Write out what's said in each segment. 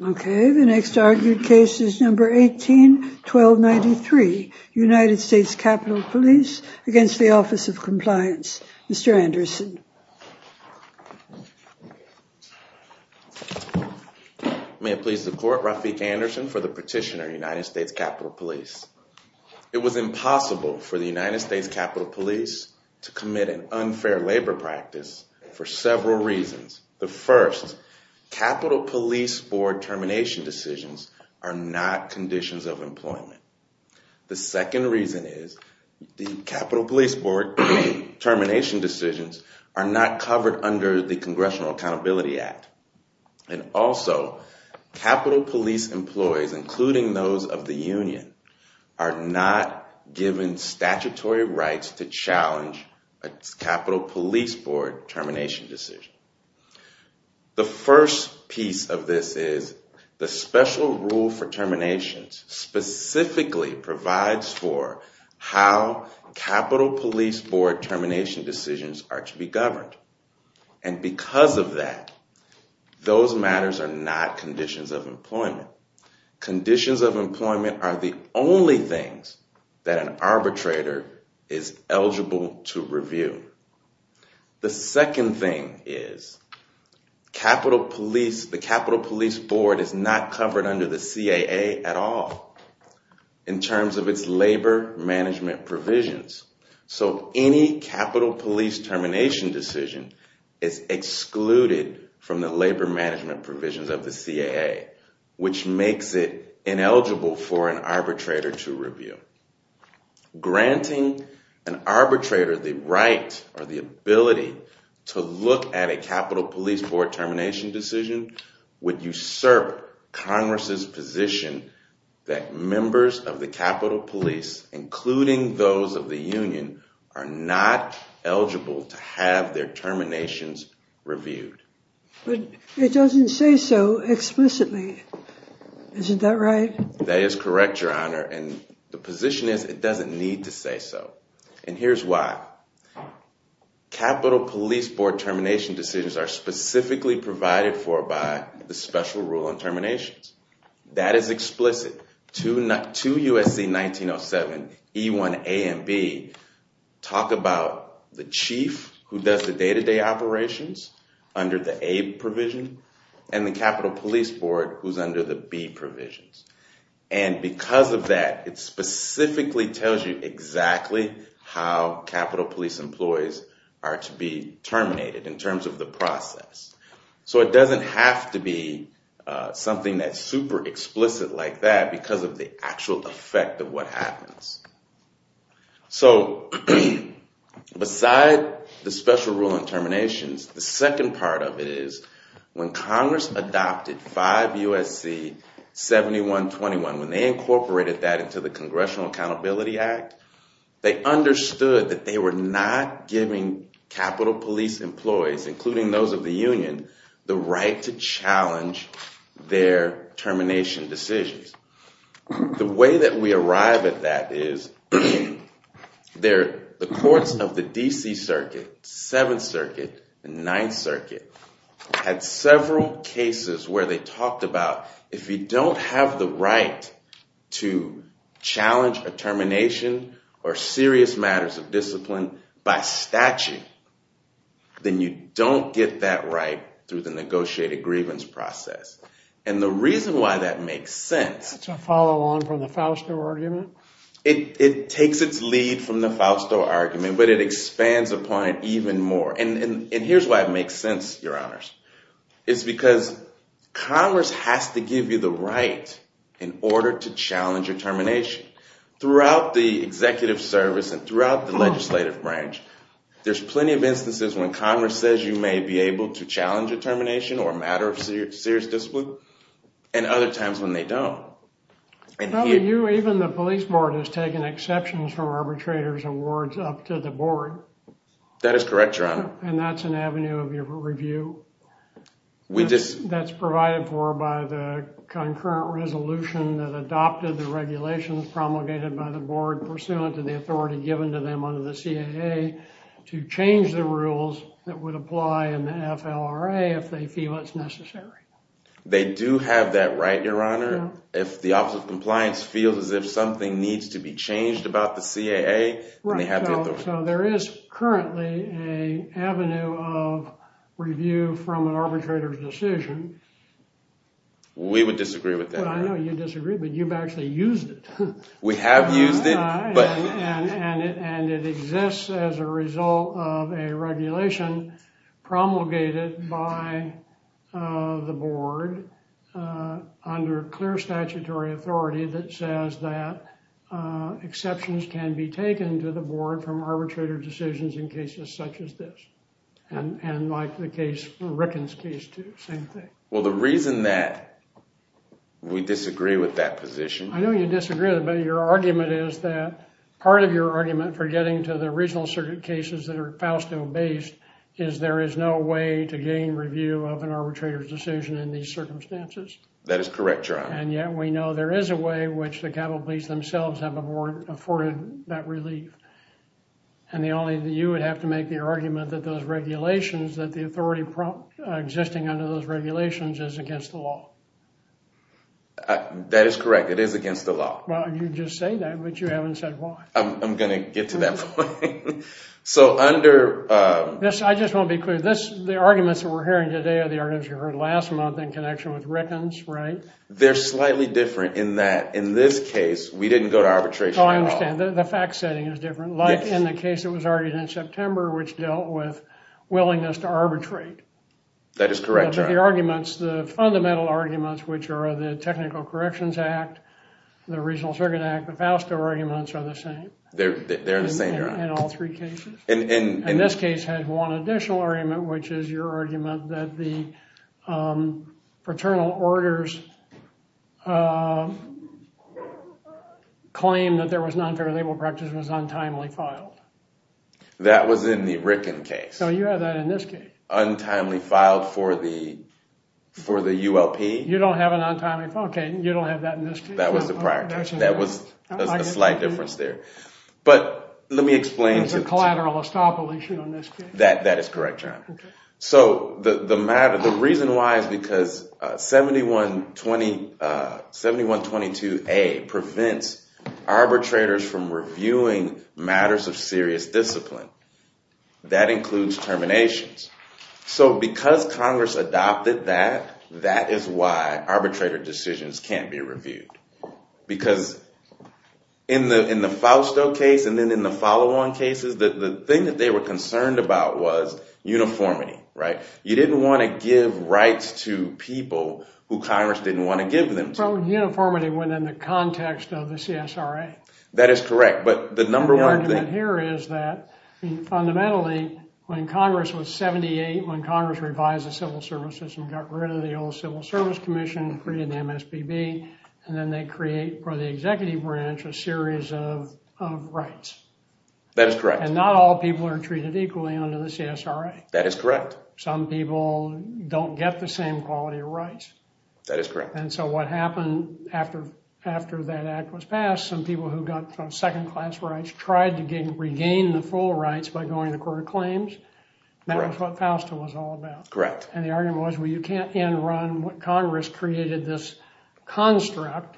181293 United States Capitol Police v. Office of Compliance Mr. Anderson May it please the Court, Rafik Anderson for the Petitioner, United States Capitol Police. It was impossible for the United States Capitol Police to commit an unfair labor practice for several reasons. The first, Capitol Police Board termination decisions are not conditions of employment. The second reason is the Capitol Police Board termination decisions are not covered under the Congressional Accountability Act. And also, Capitol Police employees, including those of the union, are not given statutory rights to challenge a Capitol Police Board termination decision. The first piece of this is the special rule for terminations specifically provides for how Capitol Police Board termination decisions are to be governed. And because of that, those matters are not conditions of employment. Conditions of employment are the only things that an arbitrator is eligible to review. The second thing is the Capitol Police Board is not covered under the CAA at all in terms of its labor management provisions. So any Capitol Police termination decision is excluded from the labor management provisions of the CAA, which makes it ineligible for an arbitrator to review. Granting an arbitrator the right or the ability to look at a Capitol Police Board termination decision would usurp Congress's position that members of the Capitol Police, including those of the union, are not eligible to have their terminations reviewed. But it doesn't say so explicitly, isn't that right? That is correct, Your Honor, and the position is it doesn't need to say so. And here's why. Capitol Police Board termination decisions are specifically provided for by the special rule on terminations. That is explicit. Two USC 1907 E1 A and B talk about the chief who does the day-to-day operations under the A provision and the Capitol Police Board who's under the B provisions. And because of that, it specifically tells you exactly how Capitol Police employees are to be terminated in terms of the process. So it doesn't have to be something that's super explicit like that because of the actual effect of what happens. So beside the special rule on terminations, the second part of it is when Congress adopted 5 USC 7121, when they incorporated that into the Congressional Accountability Act, they understood that they were not giving Capitol Police employees, including those of the union, the right to challenge their termination decisions. The way that we arrive at that is the courts of the D.C. Circuit, Seventh Circuit, and Ninth Circuit, had several cases where they talked about if you don't have the right to do serious matters of discipline by statute, then you don't get that right through the negotiated grievance process. And the reason why that makes sense- That's a follow-on from the Fausto argument? It takes its lead from the Fausto argument, but it expands upon it even more. And here's why it makes sense, Your Honors. It's because Congress has to give you the right in order to challenge your termination. Throughout the executive service and throughout the legislative branch, there's plenty of instances when Congress says you may be able to challenge a termination or a matter of serious discipline, and other times when they don't. Probably you, even the police board, has taken exceptions from arbitrators' awards up to the board. That is correct, Your Honor. And that's an avenue of review that's provided for by the concurrent resolution that adopted the regulations promulgated by the board pursuant to the authority given to them under the CAA to change the rules that would apply in the FLRA if they feel it's necessary. They do have that right, Your Honor. If the Office of Compliance feels as if something needs to be changed about the CAA, then they have the authority. Right. So there is currently an avenue of review from an arbitrator's decision. We would disagree with that. I know you disagree, but you've actually used it. We have used it. And it exists as a result of a regulation promulgated by the board under clear statutory authority that says that exceptions can be taken to the board from arbitrator decisions in cases such as this, and like the case, Rickens' case, too, same thing. Well, the reason that we disagree with that position... I know you disagree, but your argument is that part of your argument for getting to the regional circuit cases that are FAUSTO-based is there is no way to gain review of an arbitrator's decision in these circumstances. That is correct, Your Honor. And yet we know there is a way which the Capitol Police themselves have afforded that relief. And the only... You would have to make the argument that those regulations that the authority prompt existing under those regulations is against the law. That is correct. It is against the law. Well, you just say that, but you haven't said why. I'm going to get to that point. So under... I just want to be clear. The arguments that we're hearing today are the arguments you heard last month in connection with Rickens, right? They're slightly different in that, in this case, we didn't go to arbitration at all. Oh, I understand. The fact-setting is different. Like in the case that was argued in September, which dealt with willingness to arbitrate. That is correct, Your Honor. But the arguments, the fundamental arguments, which are the Technical Corrections Act, the Regional Circuit Act, the FASTA arguments are the same. They're the same, Your Honor. In all three cases. In this case, had one additional argument, which is your argument that the paternal orders claim that there was non-fair labor practice was untimely filed. That was in the Rickens case. No, you had that in this case. That was untimely filed for the ULP. You don't have an untimely... Okay. You don't have that in this case. That was the prior case. That was a slight difference there. But let me explain to the... There's a collateral estoppel issue in this case. That is correct, Your Honor. So the reason why is because 7122A prevents arbitrators from reviewing matters of serious discipline. That includes terminations. So because Congress adopted that, that is why arbitrator decisions can't be reviewed. Because in the Fausto case, and then in the follow-on cases, the thing that they were concerned about was uniformity, right? You didn't want to give rights to people who Congress didn't want to give them to. So uniformity went in the context of the CSRA. That is correct. But the number one thing... The argument here is that, fundamentally, when Congress was 78, when Congress revised the civil service system, got rid of the old Civil Service Commission, created the MSPB, and then they create, for the executive branch, a series of rights. That is correct. And not all people are treated equally under the CSRA. That is correct. Some people don't get the same quality of rights. That is correct. And so what happened after that act was passed, some people who got some second-class rights tried to regain the full rights by going to court of claims, and that was what Fausto was all about. Correct. And the argument was, well, you can't end-run what Congress created, this construct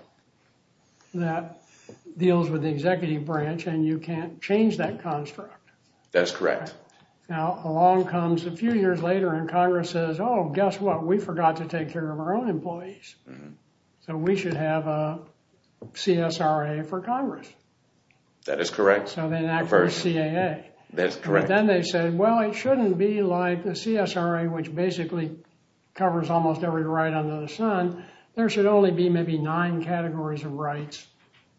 that deals with the executive branch, and you can't change that construct. That's correct. Now, along comes, a few years later, and Congress says, oh, guess what? We forgot to take care of our own employees, so we should have a CSRA for Congress. That is correct. So then, actually, CAA. That is correct. But then they said, well, it shouldn't be like the CSRA, which basically covers almost every right under the sun. There should only be maybe nine categories of rights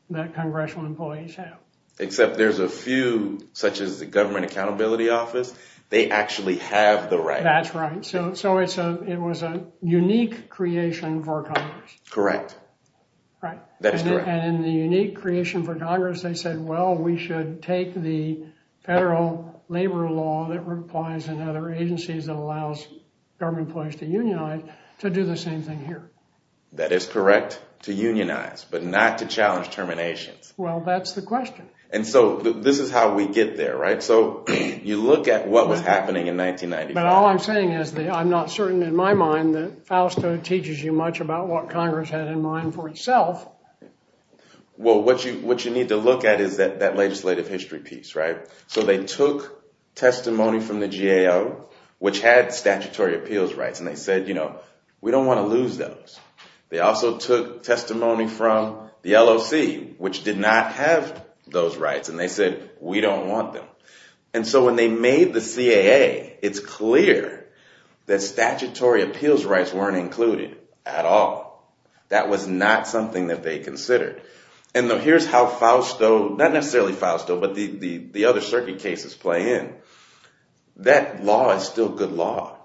that congressional employees have. Except there's a few, such as the Government Accountability Office. They actually have the right. That's right. So it was a unique creation for Congress. Correct. Right. That's correct. And in the unique creation for Congress, they said, well, we should take the federal labor law that applies in other agencies that allows government employees to unionize to do the same thing here. That is correct. To unionize, but not to challenge terminations. Well, that's the question. And so this is how we get there, right? So you look at what was happening in 1995. But all I'm saying is that I'm not certain, in my mind, that Fausto teaches you much about what Congress had in mind for itself. Well, what you need to look at is that legislative history piece, right? So they took testimony from the GAO, which had statutory appeals rights, and they said, you know, we don't want to lose those. They also took testimony from the LOC, which did not have those rights, and they said, we don't want them. And so when they made the CAA, it's clear that statutory appeals rights weren't included at all. That was not something that they considered. And here's how Fausto, not necessarily Fausto, but the other circuit cases play in. That law is still good law,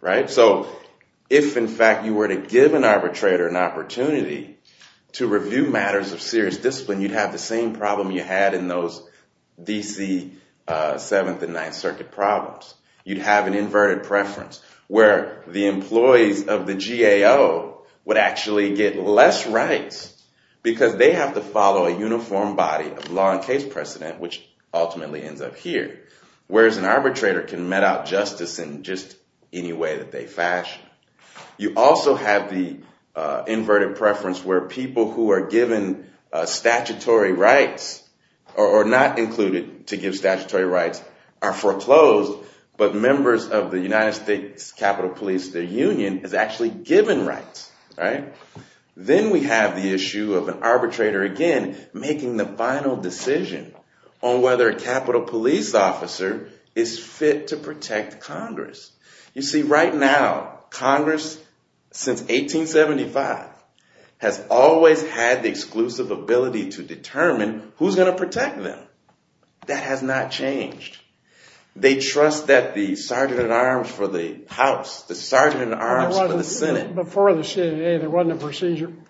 right? So if, in fact, you were to give an arbitrator an opportunity to review matters of serious discipline, you'd have the same problem you had in those DC Seventh and Ninth Circuit problems. You'd have an inverted preference, where the employees of the GAO would actually get less rights because they have to follow a uniform body of law and case precedent, which ultimately ends up here, whereas an arbitrator can met out justice in just any way that they fashion. You also have the inverted preference where people who are given statutory rights or not included to give statutory rights are foreclosed, but members of the United States Capitol Police, their union, is actually given rights, right? Then we have the issue of an arbitrator, again, making the final decision on whether a Capitol Police officer is fit to protect Congress. You see, right now, Congress, since 1875, has always had the exclusive ability to determine who's going to protect them. That has not changed. They trust that the sergeant at arms for the House, the sergeant at arms for the Senate. Before the CAA, there wasn't a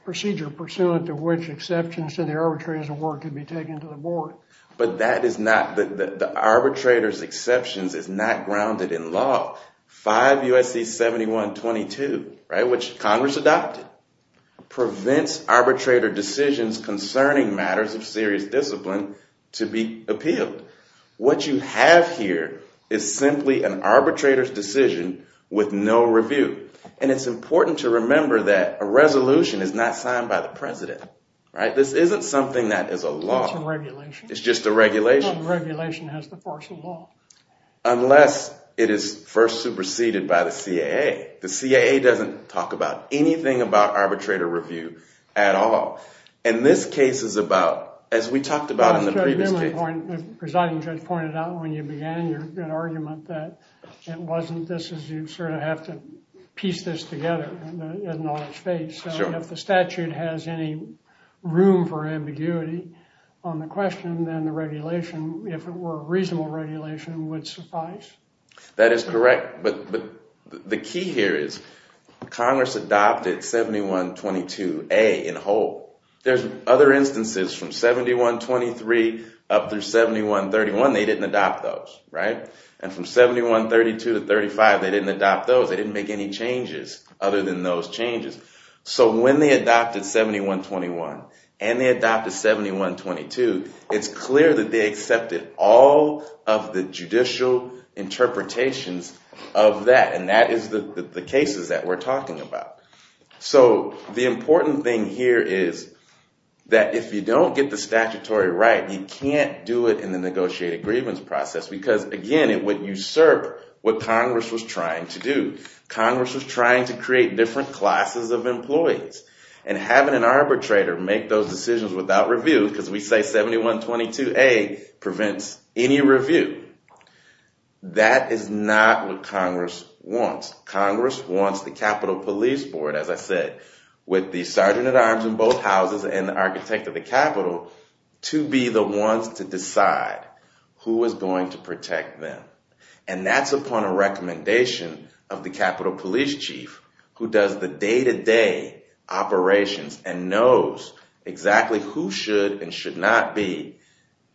procedure pursuant to which exceptions to the arbitrator's award could be taken to the board. But the arbitrator's exceptions is not grounded in law. 5 U.S.C. 7122, which Congress adopted, prevents arbitrator decisions concerning matters of serious discipline to be appealed. What you have here is simply an arbitrator's decision with no review. And it's important to remember that a resolution is not signed by the president. This isn't something that is a law. It's just a regulation. Unless it is first superseded by the CAA. The CAA doesn't talk about anything about arbitrator review at all. And this case is about, as we talked about in the previous case. The presiding judge pointed out, when you began your argument, that it wasn't this, as you sort of have to piece this together in all its face. If the statute has any room for ambiguity on the question, then the regulation, if it were a reasonable regulation, would suffice. That is correct. But the key here is Congress adopted 7122A in whole. There's other instances from 7123 up through 7131. They didn't adopt those, right? And from 7132 to 35, they didn't adopt those. They didn't make any changes other than those changes. So when they adopted 7121 and they adopted 7122, it's clear that they accepted all of the judicial interpretations of that. And that is the cases that we're talking about. So the important thing here is that if you don't get the statutory right, you can't do it in the negotiated grievance process. Because again, it would usurp what Congress was trying to do. Congress was trying to create different classes of employees. And having an arbitrator make those decisions without review, because we say 7122A prevents any review. That is not what Congress wants. Congress wants the Capitol Police Board, as I said, with the sergeant at arms in both houses and the architect of the Capitol, to be the ones to decide who is going to protect them. And that's upon a recommendation of the Capitol Police Chief, who does the day-to-day operations and knows exactly who should and should not be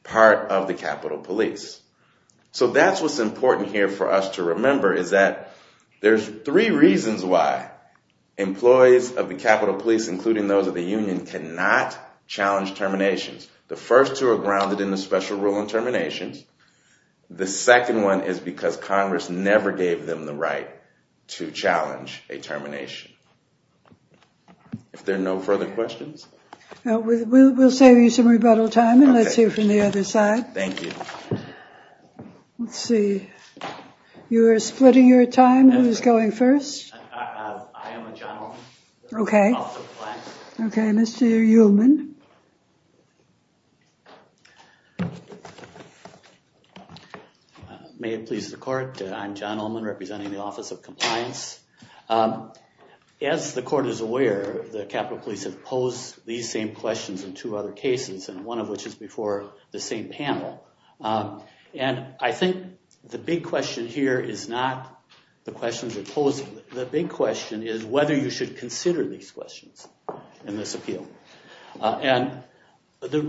part of the Capitol Police. So that's what's important here for us to remember, is that there's three reasons why employees of the Capitol Police, including those of the union, cannot challenge terminations. The first two are grounded in the special rule on terminations. The second one is because Congress never gave them the right to challenge a termination. If there are no further questions. Now, we'll save you some rebuttal time and let's hear from the other side. Thank you. Let's see, you're splitting your time, who's going first? I am a gentleman. Okay. Okay, Mr. Ullman. May it please the court, I'm John Ullman representing the Office of Compliance. As the court is aware, the Capitol Police have posed these same questions in two other cases, and one of which is before the same panel. And I think the big question here is not the questions that are posed. The big question is whether you should consider these questions in this appeal. And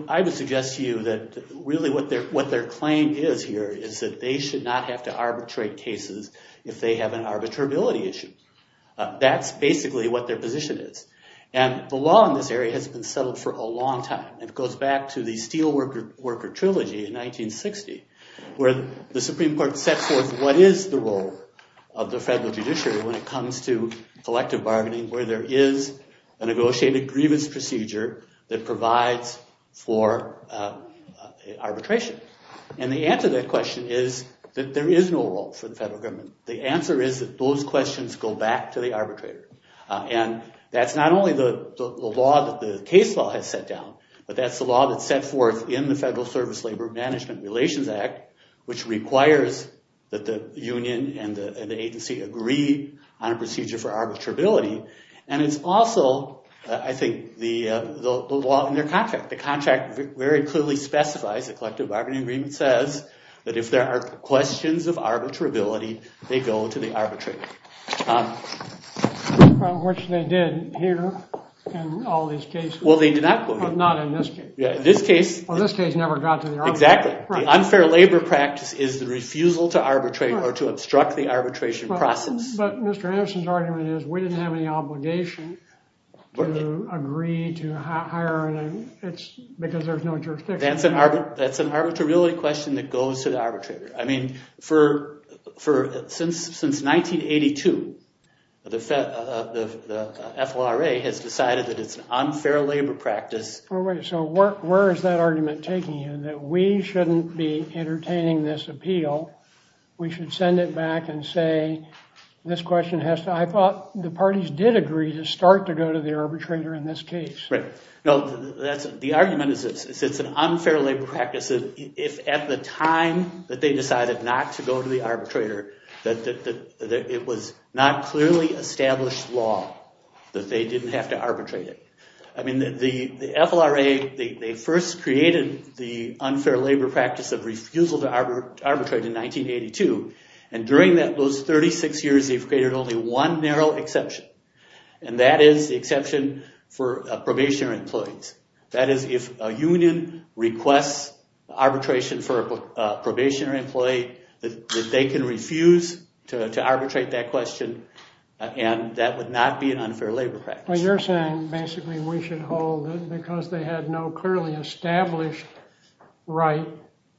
I would suggest to you that really what their claim is here is that they should not have to arbitrate cases if they have an arbitrability issue. That's basically what their position is. And the law in this area has been settled for a long time. It goes back to the Steelworker Trilogy in 1960, where the Supreme Court sets forth what is the role of the federal judiciary when it comes to collective bargaining, where there is a negotiated grievance procedure that provides for arbitration. And the answer to that question is that there is no role for the federal government. The answer is that those questions go back to the arbitrator. And that's not only the law that the case law has set down, but that's the law that's set forth in the Federal Service Labor Management Relations Act, which requires that the union and the agency agree on a procedure for arbitrability. And it's also, I think, the law in their contract. The contract very clearly specifies, the collective bargaining agreement says, that if there are questions of arbitrability, they go to the arbitrator. Which they did here in all these cases. Well, they did not go here. Not in this case. This case. Well, this case never got to the arbitrator. Exactly. The unfair labor practice is the refusal to arbitrate, or to obstruct the arbitration process. But Mr. Anderson's argument is, we didn't have any obligation to agree to hire, because there's no jurisdiction. That's an arbitrability question that goes to the arbitrator. I mean, since 1982, the FLRA has decided that it's an unfair labor practice. So where is that argument taking you? That we shouldn't be entertaining this appeal. We should send it back and say, this question has to, I thought the parties did agree to start to go to the arbitrator in this case. Right. No, the argument is, it's an unfair labor practice. If at the time that they decided not to go to the arbitrator, that it was not clearly established law, that they didn't have to arbitrate it. I mean, the FLRA, they first created the unfair labor practice of refusal to arbitrate in 1982. And during those 36 years, they've created only one narrow exception. And that is the exception for probationary employees. That is, if a union requests arbitration for a probationary employee, that they can refuse to arbitrate that question. And that would not be an unfair labor practice. Well, you're saying, basically, we should hold it because they had no clearly established right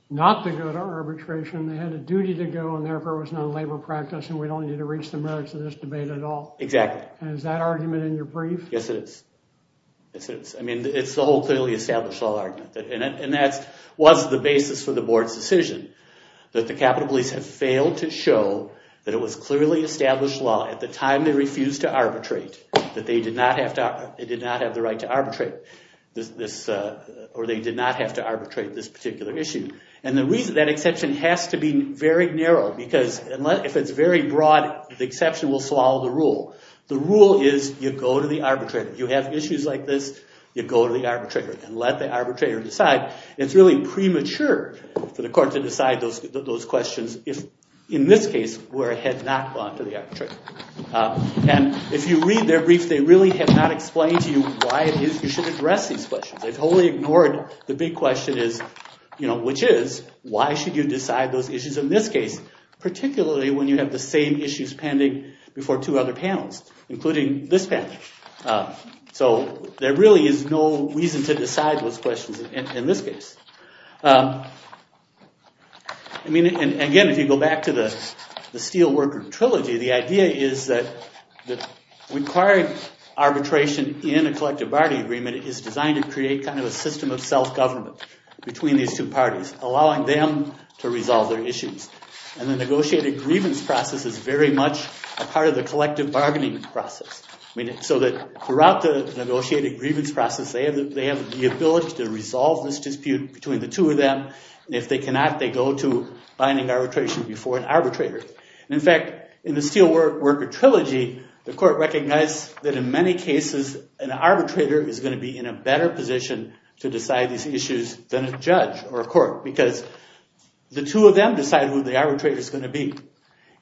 not to go to arbitration. They had a duty to go, and therefore, it was not a labor practice. And we don't need to reach the merits of this debate at all. Exactly. Is that argument in your brief? Yes, it is. I mean, it's the whole clearly established law argument. And that was the basis for the board's decision, that the capital police have failed to show that it was clearly established law at the time they refused to arbitrate, that they did not have the right to arbitrate this, or they did not have to arbitrate this particular issue. And the reason that exception has to be very narrow, because if it's very broad, the exception will swallow the rule. The rule is you go to the arbitrator. You have issues like this, you go to the arbitrator and let the arbitrator decide. It's really premature for the court to decide those questions, in this case, where it had not gone to the arbitrator. And if you read their brief, they really have not explained to you why it is you should address these questions. They've totally ignored the big question is, which is, why should you decide those issues in this case, particularly when you have the same issues pending before two other panels, including this panel. So there really is no reason to decide those questions in this case. I mean, and again, if you go back to the Steelworker Trilogy, the idea is that requiring arbitration in a collective bargaining agreement is designed to create kind of a system of self-government between these two parties, allowing them to resolve their issues. And the negotiated grievance process is very much a part of the collective bargaining process, so that throughout the negotiated grievance process, they have the ability to resolve this dispute between the two of them. If they cannot, they go to binding arbitration before an arbitrator. In fact, in the Steelworker Trilogy, the court recognized that in many cases, an arbitrator is going to be in a better position to decide these issues than a judge or a court, because the two of them decide who the arbitrator is going to be.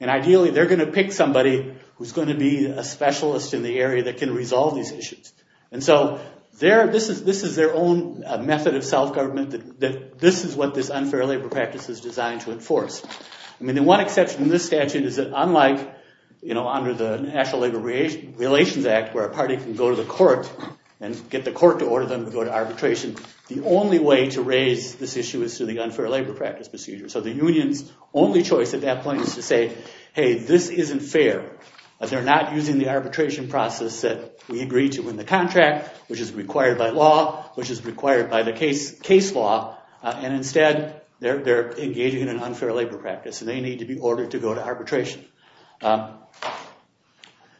And ideally, they're going to pick somebody who's going to be a specialist in the area that can resolve these issues. And so this is their own method of self-government, that this is what this unfair labor practice is designed to enforce. I mean, the one exception in this statute is that unlike under the National Labor Relations Act, where a party can go to the court and get the court to order them to go to arbitration, the only way to raise this issue is through the unfair labor practice procedure. So the union's only choice at that point is to say, hey, this isn't fair. They're not using the arbitration process that we agreed to in the contract, which is required by law, which is required by the case law. And instead, they're engaging in an unfair labor practice. And they need to be ordered to go to arbitration.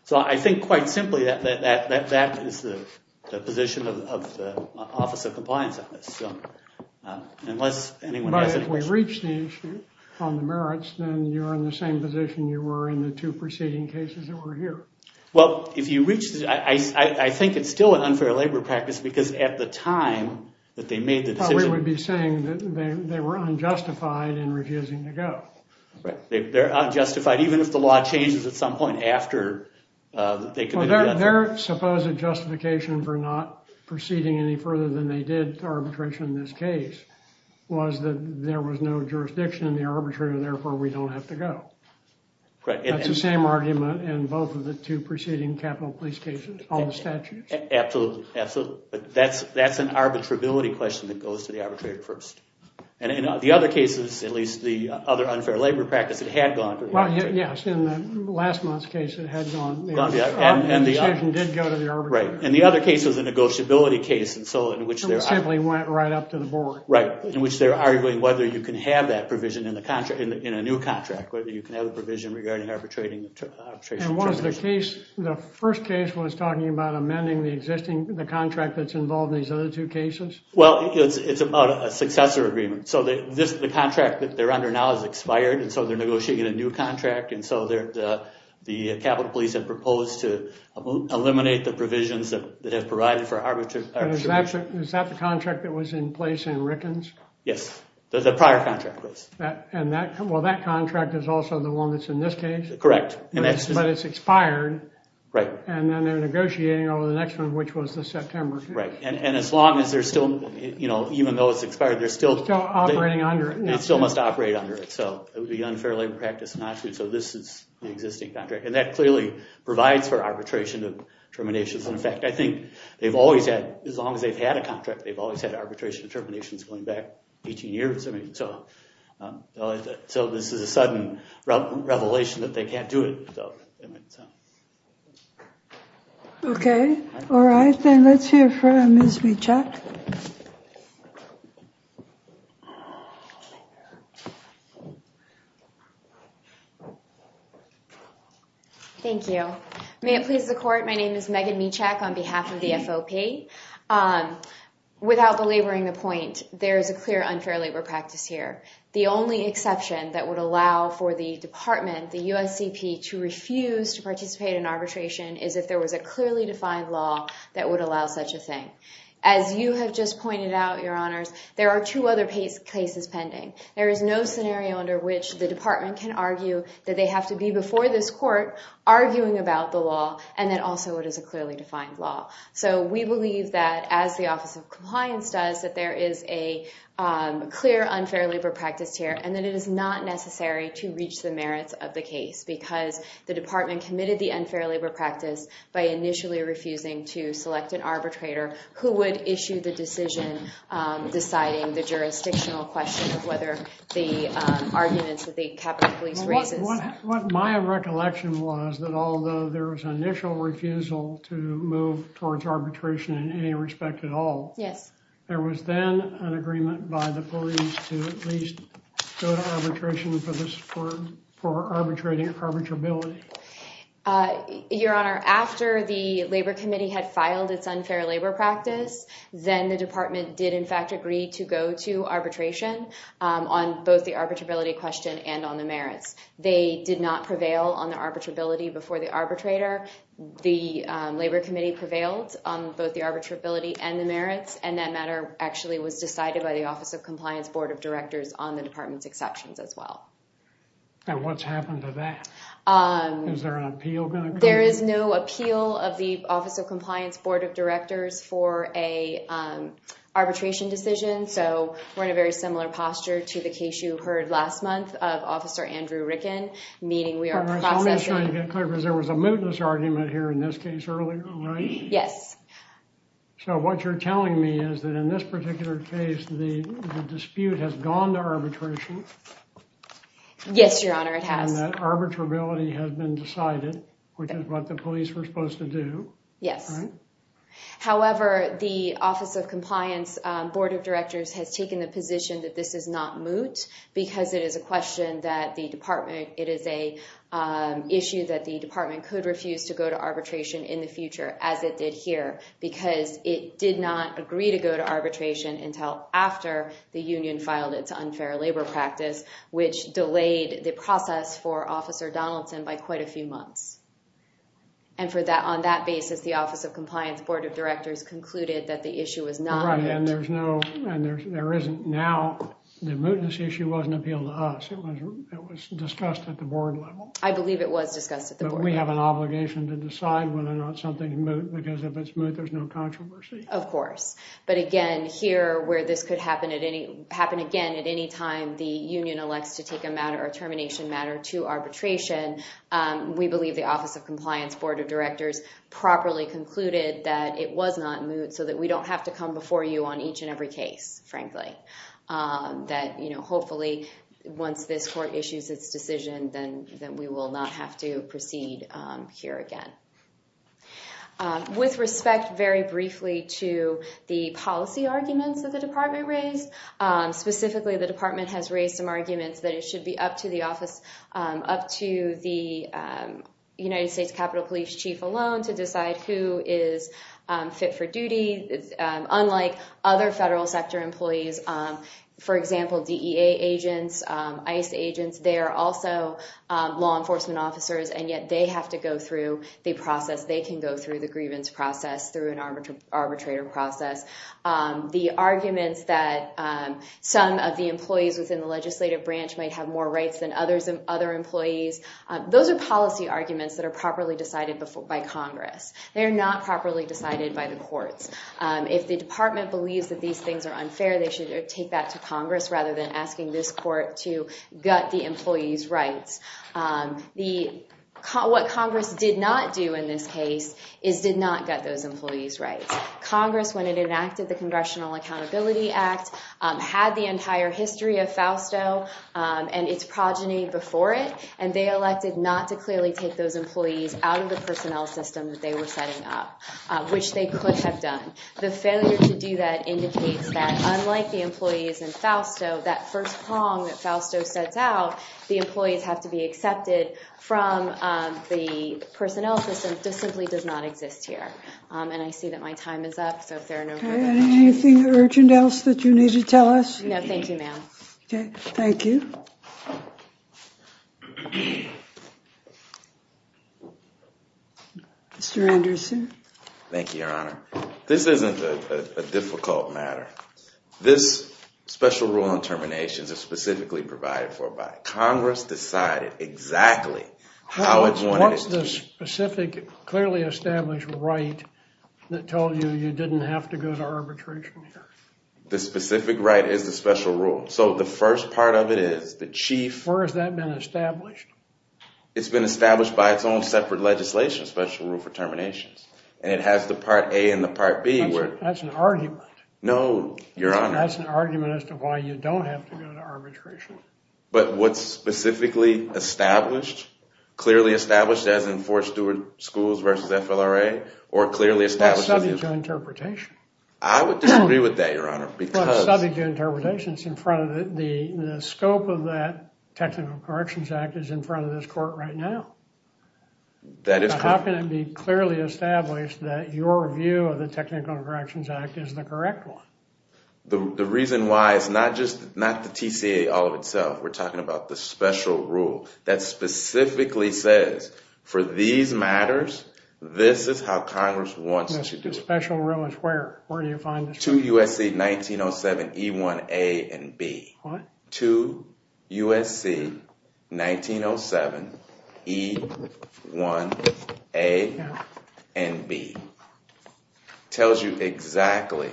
So I think, quite simply, that is the position of the Office of Compliance on this. Unless anyone has any questions. But if we reach the issue on the merits, then you're in the same position you were in the two preceding cases that were here. Well, if you reach this, I think it's still an unfair labor practice. Because at the time that they made the decision. We would be saying that they were unjustified in refusing to go. They're unjustified, even if the law changes at some point after they committed the offense. Their supposed justification for not proceeding any further than they did to arbitration in this case was that there was no jurisdiction in the arbitrator. Therefore, we don't have to go. That's the same argument in both of the two preceding capital police cases, all the statutes. Absolutely. Absolutely. But that's an arbitrability question that goes to the arbitrator first. And in the other cases, at least the other unfair labor practice, it had gone to the arbitrator. Yes, in the last month's case, it had gone to the arbitrator. And the decision did go to the arbitrator. Right. And the other case was a negotiability case. And so in which they're arguing. It simply went right up to the board. Right. In which they're arguing whether you can have that provision in a new contract. Whether you can have a provision regarding arbitration. And was the case, the first case was talking about amending the existing contract that's involved in these other two cases? Well, it's about a successor agreement. So the contract that they're under now has expired. And so they're negotiating a new contract. And so the capital police have proposed to eliminate the provisions that have provided for arbitration. Is that the contract that was in place in Rickens? Yes, the prior contract was. Well, that contract is also the one that's in this case. Correct. But it's expired. Right. And then they're negotiating over the next one, which was the September case. Right. And as long as they're still, even though it's expired, they're still. Still operating under it. They still must operate under it. So it would be unfair labor practice not to. So this is the existing contract. And that clearly provides for arbitration of terminations. And in fact, I think they've always had, as long as they've had a contract, they've always had arbitration of terminations going back 18 years. I mean, so this is a sudden revelation that they can't do it. OK. All right, then let's hear from Ms. Michak. Thank you. May it please the court, my name is Megan Michak on behalf of the FOP. OK. Without belaboring the point, there is a clear unfair labor practice here. The only exception that would allow for the department, the USCP, to refuse to participate in arbitration is if there was a clearly defined law that would allow such a thing. As you have just pointed out, your honors, there are two other cases pending. There is no scenario under which the department can argue that they have to be before this court arguing about the law and that also it is a clearly defined law. So we believe that as the Office of Compliance does, that there is a clear unfair labor practice here and that it is not necessary to reach the merits of the case because the department committed the unfair labor practice by initially refusing to select an arbitrator who would issue the decision deciding the jurisdictional question of whether the arguments that the Capitol Police raises. What my recollection was that although there was initial refusal to move towards arbitration in any respect at all, there was then an agreement by the police to at least go to arbitration for arbitrability. Your honor, after the Labor Committee had filed its unfair labor practice, then the department did in fact agree to go to arbitration on both the arbitrability question and on the merits. They did not prevail on the arbitrability before the arbitrator. The Labor Committee prevailed on both the arbitrability and the merits and that matter actually was decided by the Office of Compliance Board of Directors on the department's exceptions as well. And what's happened to that? Is there an appeal going to come? There is no appeal of the Office of Compliance Board of Directors for a arbitration decision. So we're in a very similar posture to the case you heard last month of Officer Andrew Ricken, meaning we are processing... You had a different argument here in this case earlier, right? Yes. So what you're telling me is that in this particular case, the dispute has gone to arbitration. Yes, your honor, it has. And that arbitrability has been decided, which is what the police were supposed to do. Yes. However, the Office of Compliance Board of Directors has taken the position that this is not moot because it is a question that the department... ...needs to go to arbitration in the future, as it did here, because it did not agree to go to arbitration until after the union filed its unfair labor practice, which delayed the process for Officer Donaldson by quite a few months. And on that basis, the Office of Compliance Board of Directors concluded that the issue was not moot. Right, and there's no... And there isn't now... The mootness issue wasn't appealed to us. It was discussed at the board level. I believe it was discussed at the board level. But we have an obligation to decide whether or not something is moot, because if it's moot, there's no controversy. Of course. But again, here, where this could happen again at any time, the union elects to take a matter, a termination matter, to arbitration, we believe the Office of Compliance Board of Directors properly concluded that it was not moot so that we don't have to come before you on each and every case, frankly. That hopefully, once this court issues its decision, then we will not have to proceed here again. With respect, very briefly, to the policy arguments that the department raised, specifically, the department has raised some arguments that it should be up to the office, up to the United States Capitol Police Chief alone to decide who is fit for duty. Unlike other federal sector employees, for example, DEA agents, ICE agents, they are also law enforcement officers, and yet they have to go through the process. They can go through the grievance process through an arbitrator process. The arguments that some of the employees within the legislative branch might have more rights than other employees, those are policy arguments that are properly decided by Congress. They are not properly decided by the courts. If the department believes that these things are unfair, they should take that to Congress rather than asking this court to gut the employees' rights. What Congress did not do in this case is did not gut those employees' rights. Congress, when it enacted the Congressional Accountability Act, had the entire history of FAUSTO and its progeny before it, and they elected not to clearly take those employees out of the personnel system that they were setting up, which they could have done. The failure to do that indicates that, unlike the employees in FAUSTO, that first prong that FAUSTO sets out, the employees have to be accepted from the personnel system just simply does not exist here. And I see that my time is up, so if there are no further questions. Anything urgent else that you need to tell us? No, thank you, ma'am. Okay, thank you. Mr. Anderson. Thank you, Your Honor. This isn't a difficult matter. This special rule on terminations is specifically provided for by Congress, decided exactly how it wanted it to be. What's the specific, clearly established right that told you you didn't have to go to arbitration here? The specific right is the special rule. So the first part of it is the chief. Where has that been established? It's been established by its own separate legislation, special rule for terminations. And it has the part A and the part B where... That's an argument. No, Your Honor. That's an argument as to why you don't have to go to arbitration. But what's specifically established, clearly established, as in Fort Stewart Schools versus FLRA, or clearly established... That's subject to interpretation. I would disagree with that, Your Honor, because... Well, it's subject to interpretation. It's in front of the... The scope of that Technical Corrections Act is in front of this court right now. That is correct. How can it be clearly established that your view of the Technical Corrections Act is the correct one? The reason why it's not just, not the TCA all of itself. We're talking about the special rule that specifically says, for these matters, this is how Congress wants it to be. The special rule is where? Where do you find this rule? 2 U.S.C. 1907 E1A and B. 2 U.S.C. 1907 E1A and B. 2 U.S.C. 1907 E1A and B. Tells you exactly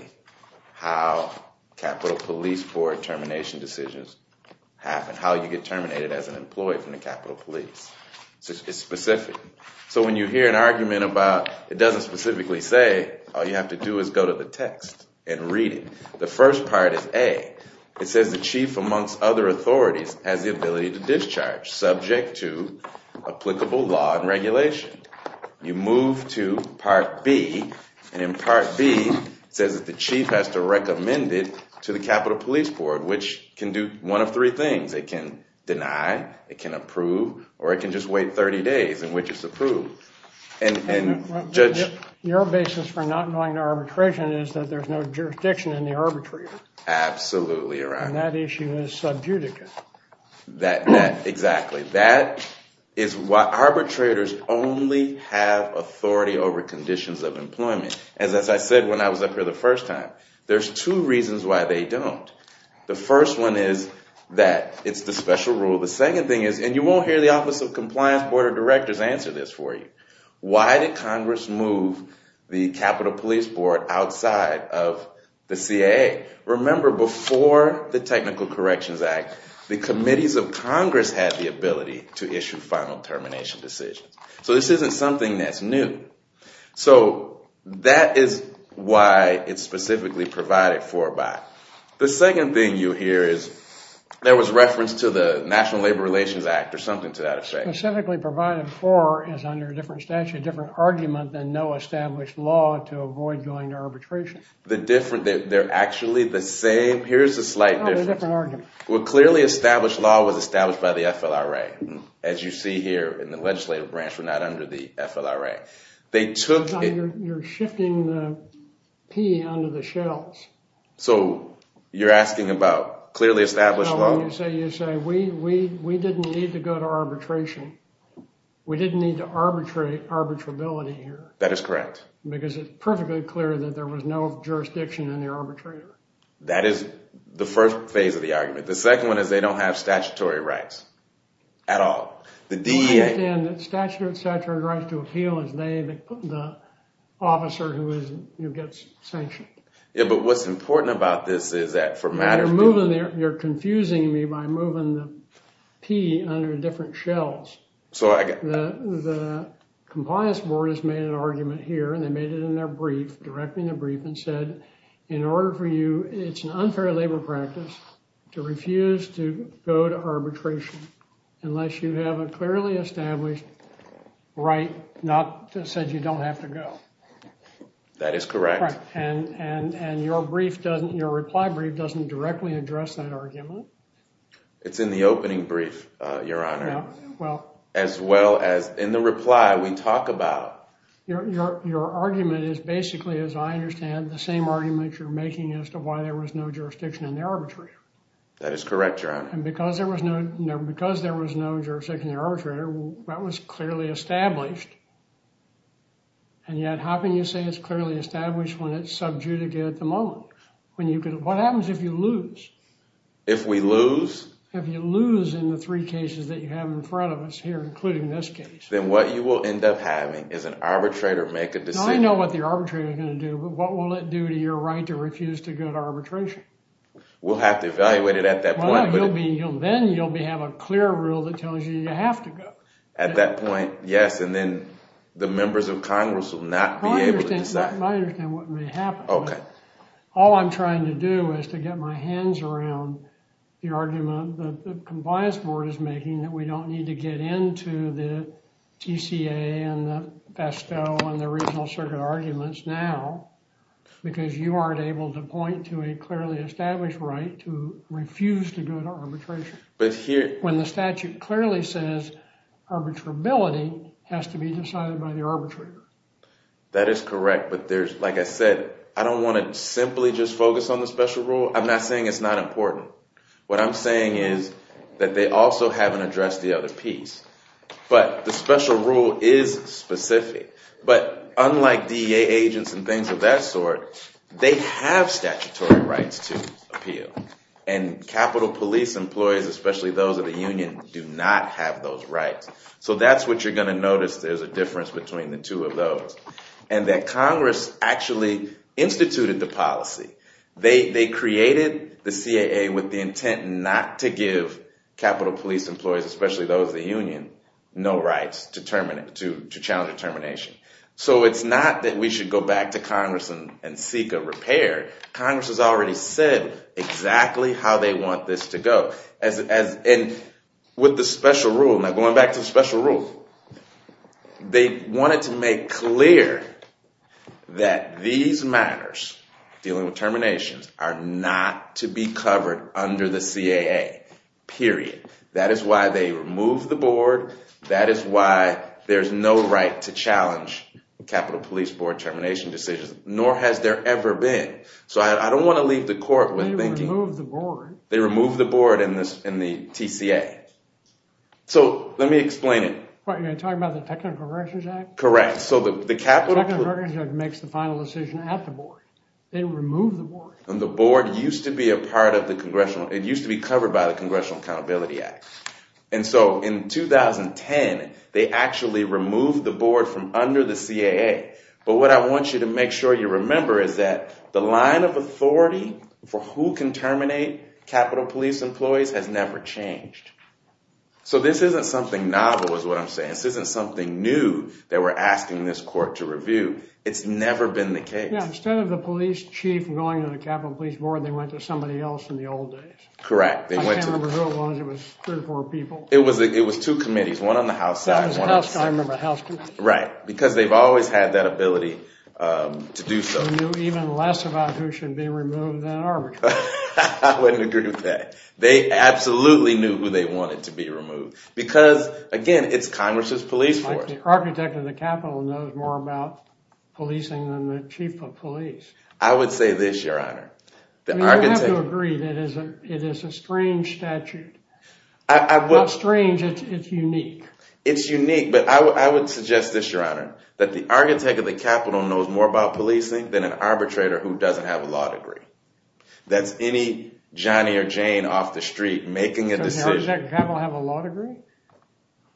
how Capitol Police Board termination decisions happen, how you get terminated as an employee from the Capitol Police. It's specific. So when you hear an argument about, it doesn't specifically say, all you have to do is go to the text and read it. The first part is A. It says the chief amongst other authorities has the ability to discharge, subject to applicable law and regulation. You move to part B. And in part B, it says that the chief has to recommend it to the Capitol Police Board, which can do one of three things. It can deny, it can approve, or it can just wait 30 days in which it's approved. And Judge. Your basis for not going to arbitration is that there's no jurisdiction in the arbitration. Absolutely, Your Honor. And that issue is subjudicate. That, exactly. That is why arbitrators only have authority over conditions of employment. As I said when I was up here the first time, there's two reasons why they don't. The first one is that it's the special rule. The second thing is, and you won't hear the Office of Compliance, Board of Directors answer this for you. Why did Congress move the Capitol Police Board outside of the CAA? Remember, before the Technical Corrections Act, the committees of Congress had the ability to issue final termination decisions. So this isn't something that's new. So that is why it's specifically provided for by. The second thing you hear is, there was reference to the National Labor Relations Act or something to that effect. Specifically provided for is under a different statute, different argument than no established law to avoid going to arbitration. The different, they're actually the same. Here's the slight difference. Well, clearly established law was established by the FLRA. As you see here in the legislative branch, we're not under the FLRA. They took it. You're shifting the P under the shells. So you're asking about clearly established law? No, you say we didn't need to go to arbitration. We didn't need to arbitrate arbitrability here. That is correct. Because it's perfectly clear that there was no jurisdiction in the arbitrator. That is the first phase of the argument. The second one is they don't have statutory rights at all. The DEA- I understand that statutory rights to appeal is they, the officer who gets sanctioned. Yeah, but what's important about this is that for matters- You're confusing me by moving the P under different shells. The compliance board has made an argument here and they made it in their brief, directly in their brief and said, in order for you, it's an unfair labor practice to refuse to go to arbitration unless you have a clearly established right not to say you don't have to go. That is correct. And your brief doesn't, your reply brief doesn't directly address that argument. It's in the opening brief, Your Honor. Well- As well as in the reply, we talk about- Your argument is basically, as I understand, the same argument you're making as to why there was no jurisdiction in the arbitrator. That is correct, Your Honor. And because there was no jurisdiction in the arbitrator, that was clearly established. And yet, how can you say it's clearly established when it's subjudicated at the moment? What happens if you lose? If we lose? If you lose in the three cases that you have in front of us here, including this case- Then what you will end up having is an arbitrator make a decision- I know what the arbitrator's gonna do, but what will it do to your right to refuse to go to arbitration? We'll have to evaluate it at that point, but- Then you'll have a clear rule that tells you you have to go. At that point, yes, and then the members of Congress will not be able to decide. I understand what may happen. Okay. All I'm trying to do is to get my hands around the argument that the Compliance Board is making that we don't need to get into the TCA and the PASTO and the Regional Circuit arguments now because you aren't able to point to a clearly established right to refuse to go to arbitration. But here- When the statute clearly says arbitrability has to be decided by the arbitrator. That is correct, but there's, like I said, I don't wanna simply just focus on the special rule. I'm not saying it's not important. What I'm saying is that they also haven't addressed the other piece, but the special rule is specific. But unlike DEA agents and things of that sort, they have statutory rights to appeal. And Capitol Police employees, especially those of the union, do not have those rights. So that's what you're gonna notice. There's a difference between the two of those. And that Congress actually instituted the policy. They created the CAA with the intent not to give Capitol Police employees, especially those of the union, no rights to challenge determination. So it's not that we should go back to Congress and seek a repair. Congress has already said exactly how they want this to go. And with the special rule, now going back to the special rule, they wanted to make clear that these matters, dealing with terminations, are not to be covered under the CAA, period. That is why they removed the board. That is why there's no right to challenge the Capitol Police board termination decisions, nor has there ever been. So I don't wanna leave the court with thinking- They removed the board. They removed the board and the TCA. So let me explain it. What, you're talking about the Technical Corrections Act? Correct. So the Capitol- Technical Corrections Act makes the final decision at the board. They removed the board. And the board used to be a part of the Congressional, it used to be covered by the Congressional Accountability Act. And so in 2010, they actually removed the board from under the CAA. But what I want you to make sure you remember is that the line of authority for who can terminate Capitol Police employees has never changed. So this isn't something novel, is what I'm saying. This isn't something new that we're asking this court to review. It's never been the case. Yeah, instead of the police chief going to the Capitol Police Board, they went to somebody else in the old days. Correct, they went to- I can't remember who it was. It was three or four people. It was two committees, one on the House side, one on the- I remember, House Committee. Right, because they've always had that ability to do so. They knew even less about who should be removed than our people. I wouldn't agree with that. They absolutely knew who they wanted to be removed. Because again, it's Congress's police force. It's like the architect of the Capitol knows more about policing than the chief of police. I would say this, Your Honor. The architect- You have to agree that it is a strange statute. I would- Not strange, it's unique. It's unique, but I would suggest this, Your Honor, that the architect of the Capitol knows more about policing than an arbitrator who doesn't have a law degree. That's any Johnny or Jane off the street making a decision- Does the architect of the Capitol have a law degree?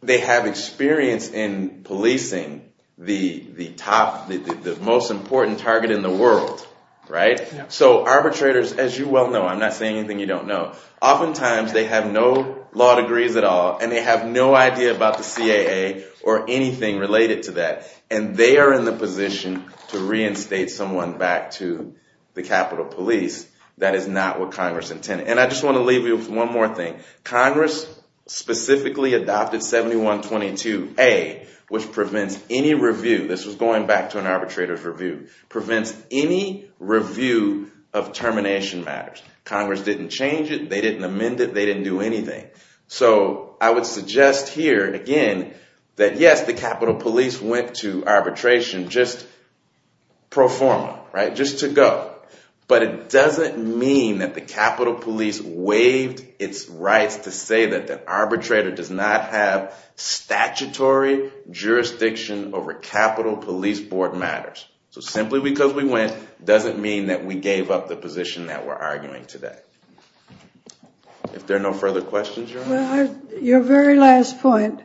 They have experience in policing the top, the most important target in the world, right? So arbitrators, as you well know, I'm not saying anything you don't know, oftentimes they have no law degrees at all and they have no idea about the CAA or anything related to that. And they are in the position to reinstate someone back to the Capitol Police. That is not what Congress intended. And I just want to leave you with one more thing. Congress specifically adopted 7122A, which prevents any review, this was going back to an arbitrator's review, prevents any review of termination matters. Congress didn't change it, they didn't amend it, they didn't do anything. So I would suggest here, again, that yes, the Capitol Police went to arbitration just pro forma, right? Just to go. But it doesn't mean that the Capitol Police waived its rights to say that an arbitrator does not have statutory jurisdiction over Capitol Police board matters. So simply because we went doesn't mean that we gave up the position that we're arguing today. If there are no further questions, Your Honor. Your very last point.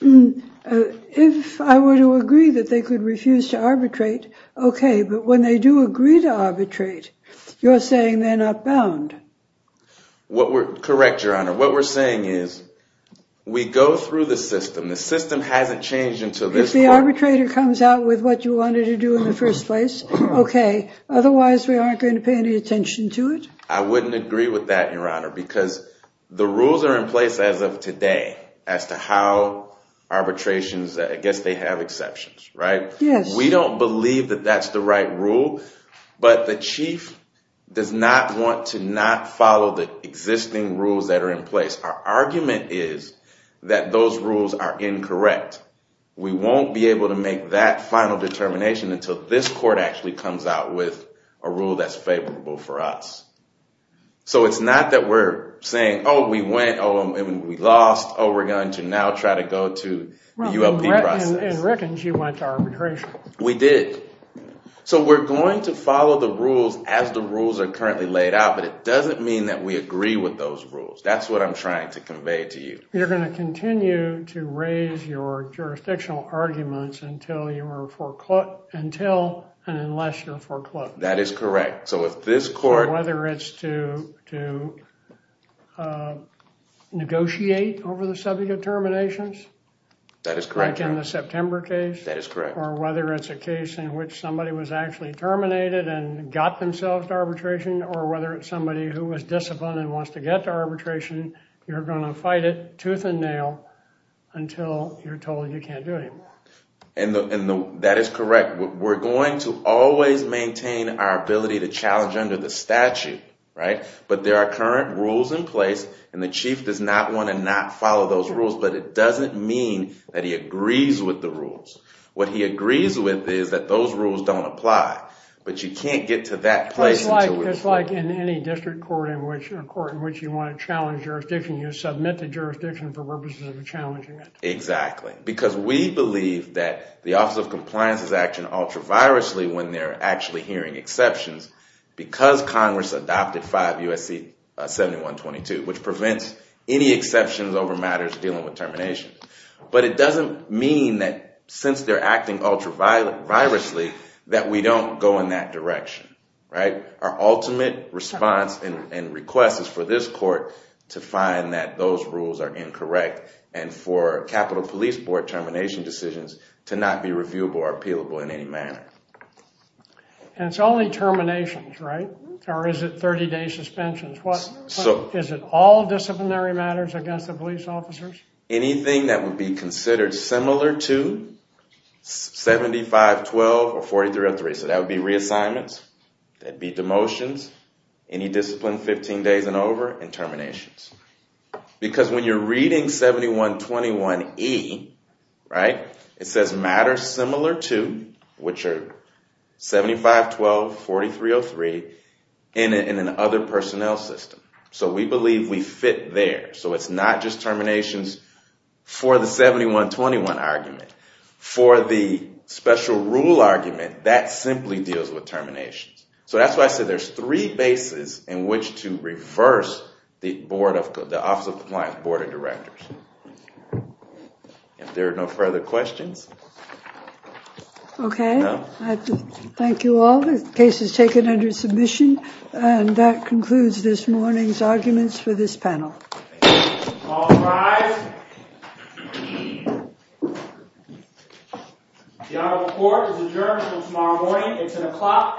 If I were to agree that they could refuse to arbitrate, okay, but when they do agree to arbitrate, you're saying they're not bound. What we're, correct, Your Honor, what we're saying is we go through the system, the system hasn't changed until this point. If the arbitrator comes out with what you wanted to do in the first place, okay, otherwise we aren't going to pay any attention to it? I wouldn't agree with that, Your Honor, because the rules are in place as of today as to how arbitrations, I guess they have exceptions, right? Yes. We don't believe that that's the right rule, but the chief does not want to not follow the existing rules that are in place. Our argument is that those rules are incorrect. We won't be able to make that final determination until this court actually comes out with a rule that's favorable for us. So it's not that we're saying, oh, we went, oh, and we lost, oh, we're going to now try to go to the ULP process. And reckons you went to arbitration. We did. So we're going to follow the rules as the rules are currently laid out, but it doesn't mean that we agree with those rules. That's what I'm trying to convey to you. You're going to continue to raise your jurisdictional arguments until you are foreclosed, until and unless you're foreclosed. That is correct. So if this court- Or whether it's to negotiate over the subject of terminations. That is correct. Like in the September case. That is correct. Or whether it's a case in which somebody was actually terminated and got themselves to arbitration, or whether it's somebody who was disciplined and wants to get to arbitration, you're going to fight it tooth and nail until you're told you can't do it anymore. And that is correct. We're going to always maintain our ability to challenge under the statute, right? But there are current rules in place, and the chief does not want to not follow those rules, but it doesn't mean that he agrees with the rules. What he agrees with is that those rules don't apply, but you can't get to that place until- It's like in any district court in which you want to challenge jurisdiction, you submit the jurisdiction for purposes of challenging it. Exactly, because we believe that the Office of Compliance is acting ultra-virously when they're actually hearing exceptions because Congress adopted 5 U.S.C. 7122, which prevents any exceptions over matters dealing with terminations. But it doesn't mean that since they're acting ultra-virously, that we don't go in that direction, right? Our ultimate response and request is for this court to find that those rules are incorrect and for Capitol Police Board termination decisions to not be reviewable or appealable in any manner. And it's only terminations, right? Or is it 30-day suspensions? Is it all disciplinary matters against the police officers? Anything that would be considered similar to 7512 or 4303, so that would be reassignments, that'd be demotions, any discipline 15 days and over, and terminations. Because when you're reading 7121E, right, it says matters similar to, which are 7512, 4303, in an other personnel system. So we believe we fit there. So it's not just terminations for the 7121 argument. For the special rule argument, that simply deals with terminations. So that's why I said there's three bases in which to reverse the Board of, the Office of Compliance Board of Directors. If there are no further questions. Okay. Thank you all. The case is taken under submission. And that concludes this morning's arguments for this panel. All rise. The Honorable Court is adjourned until tomorrow morning. It's an o'clock a.m.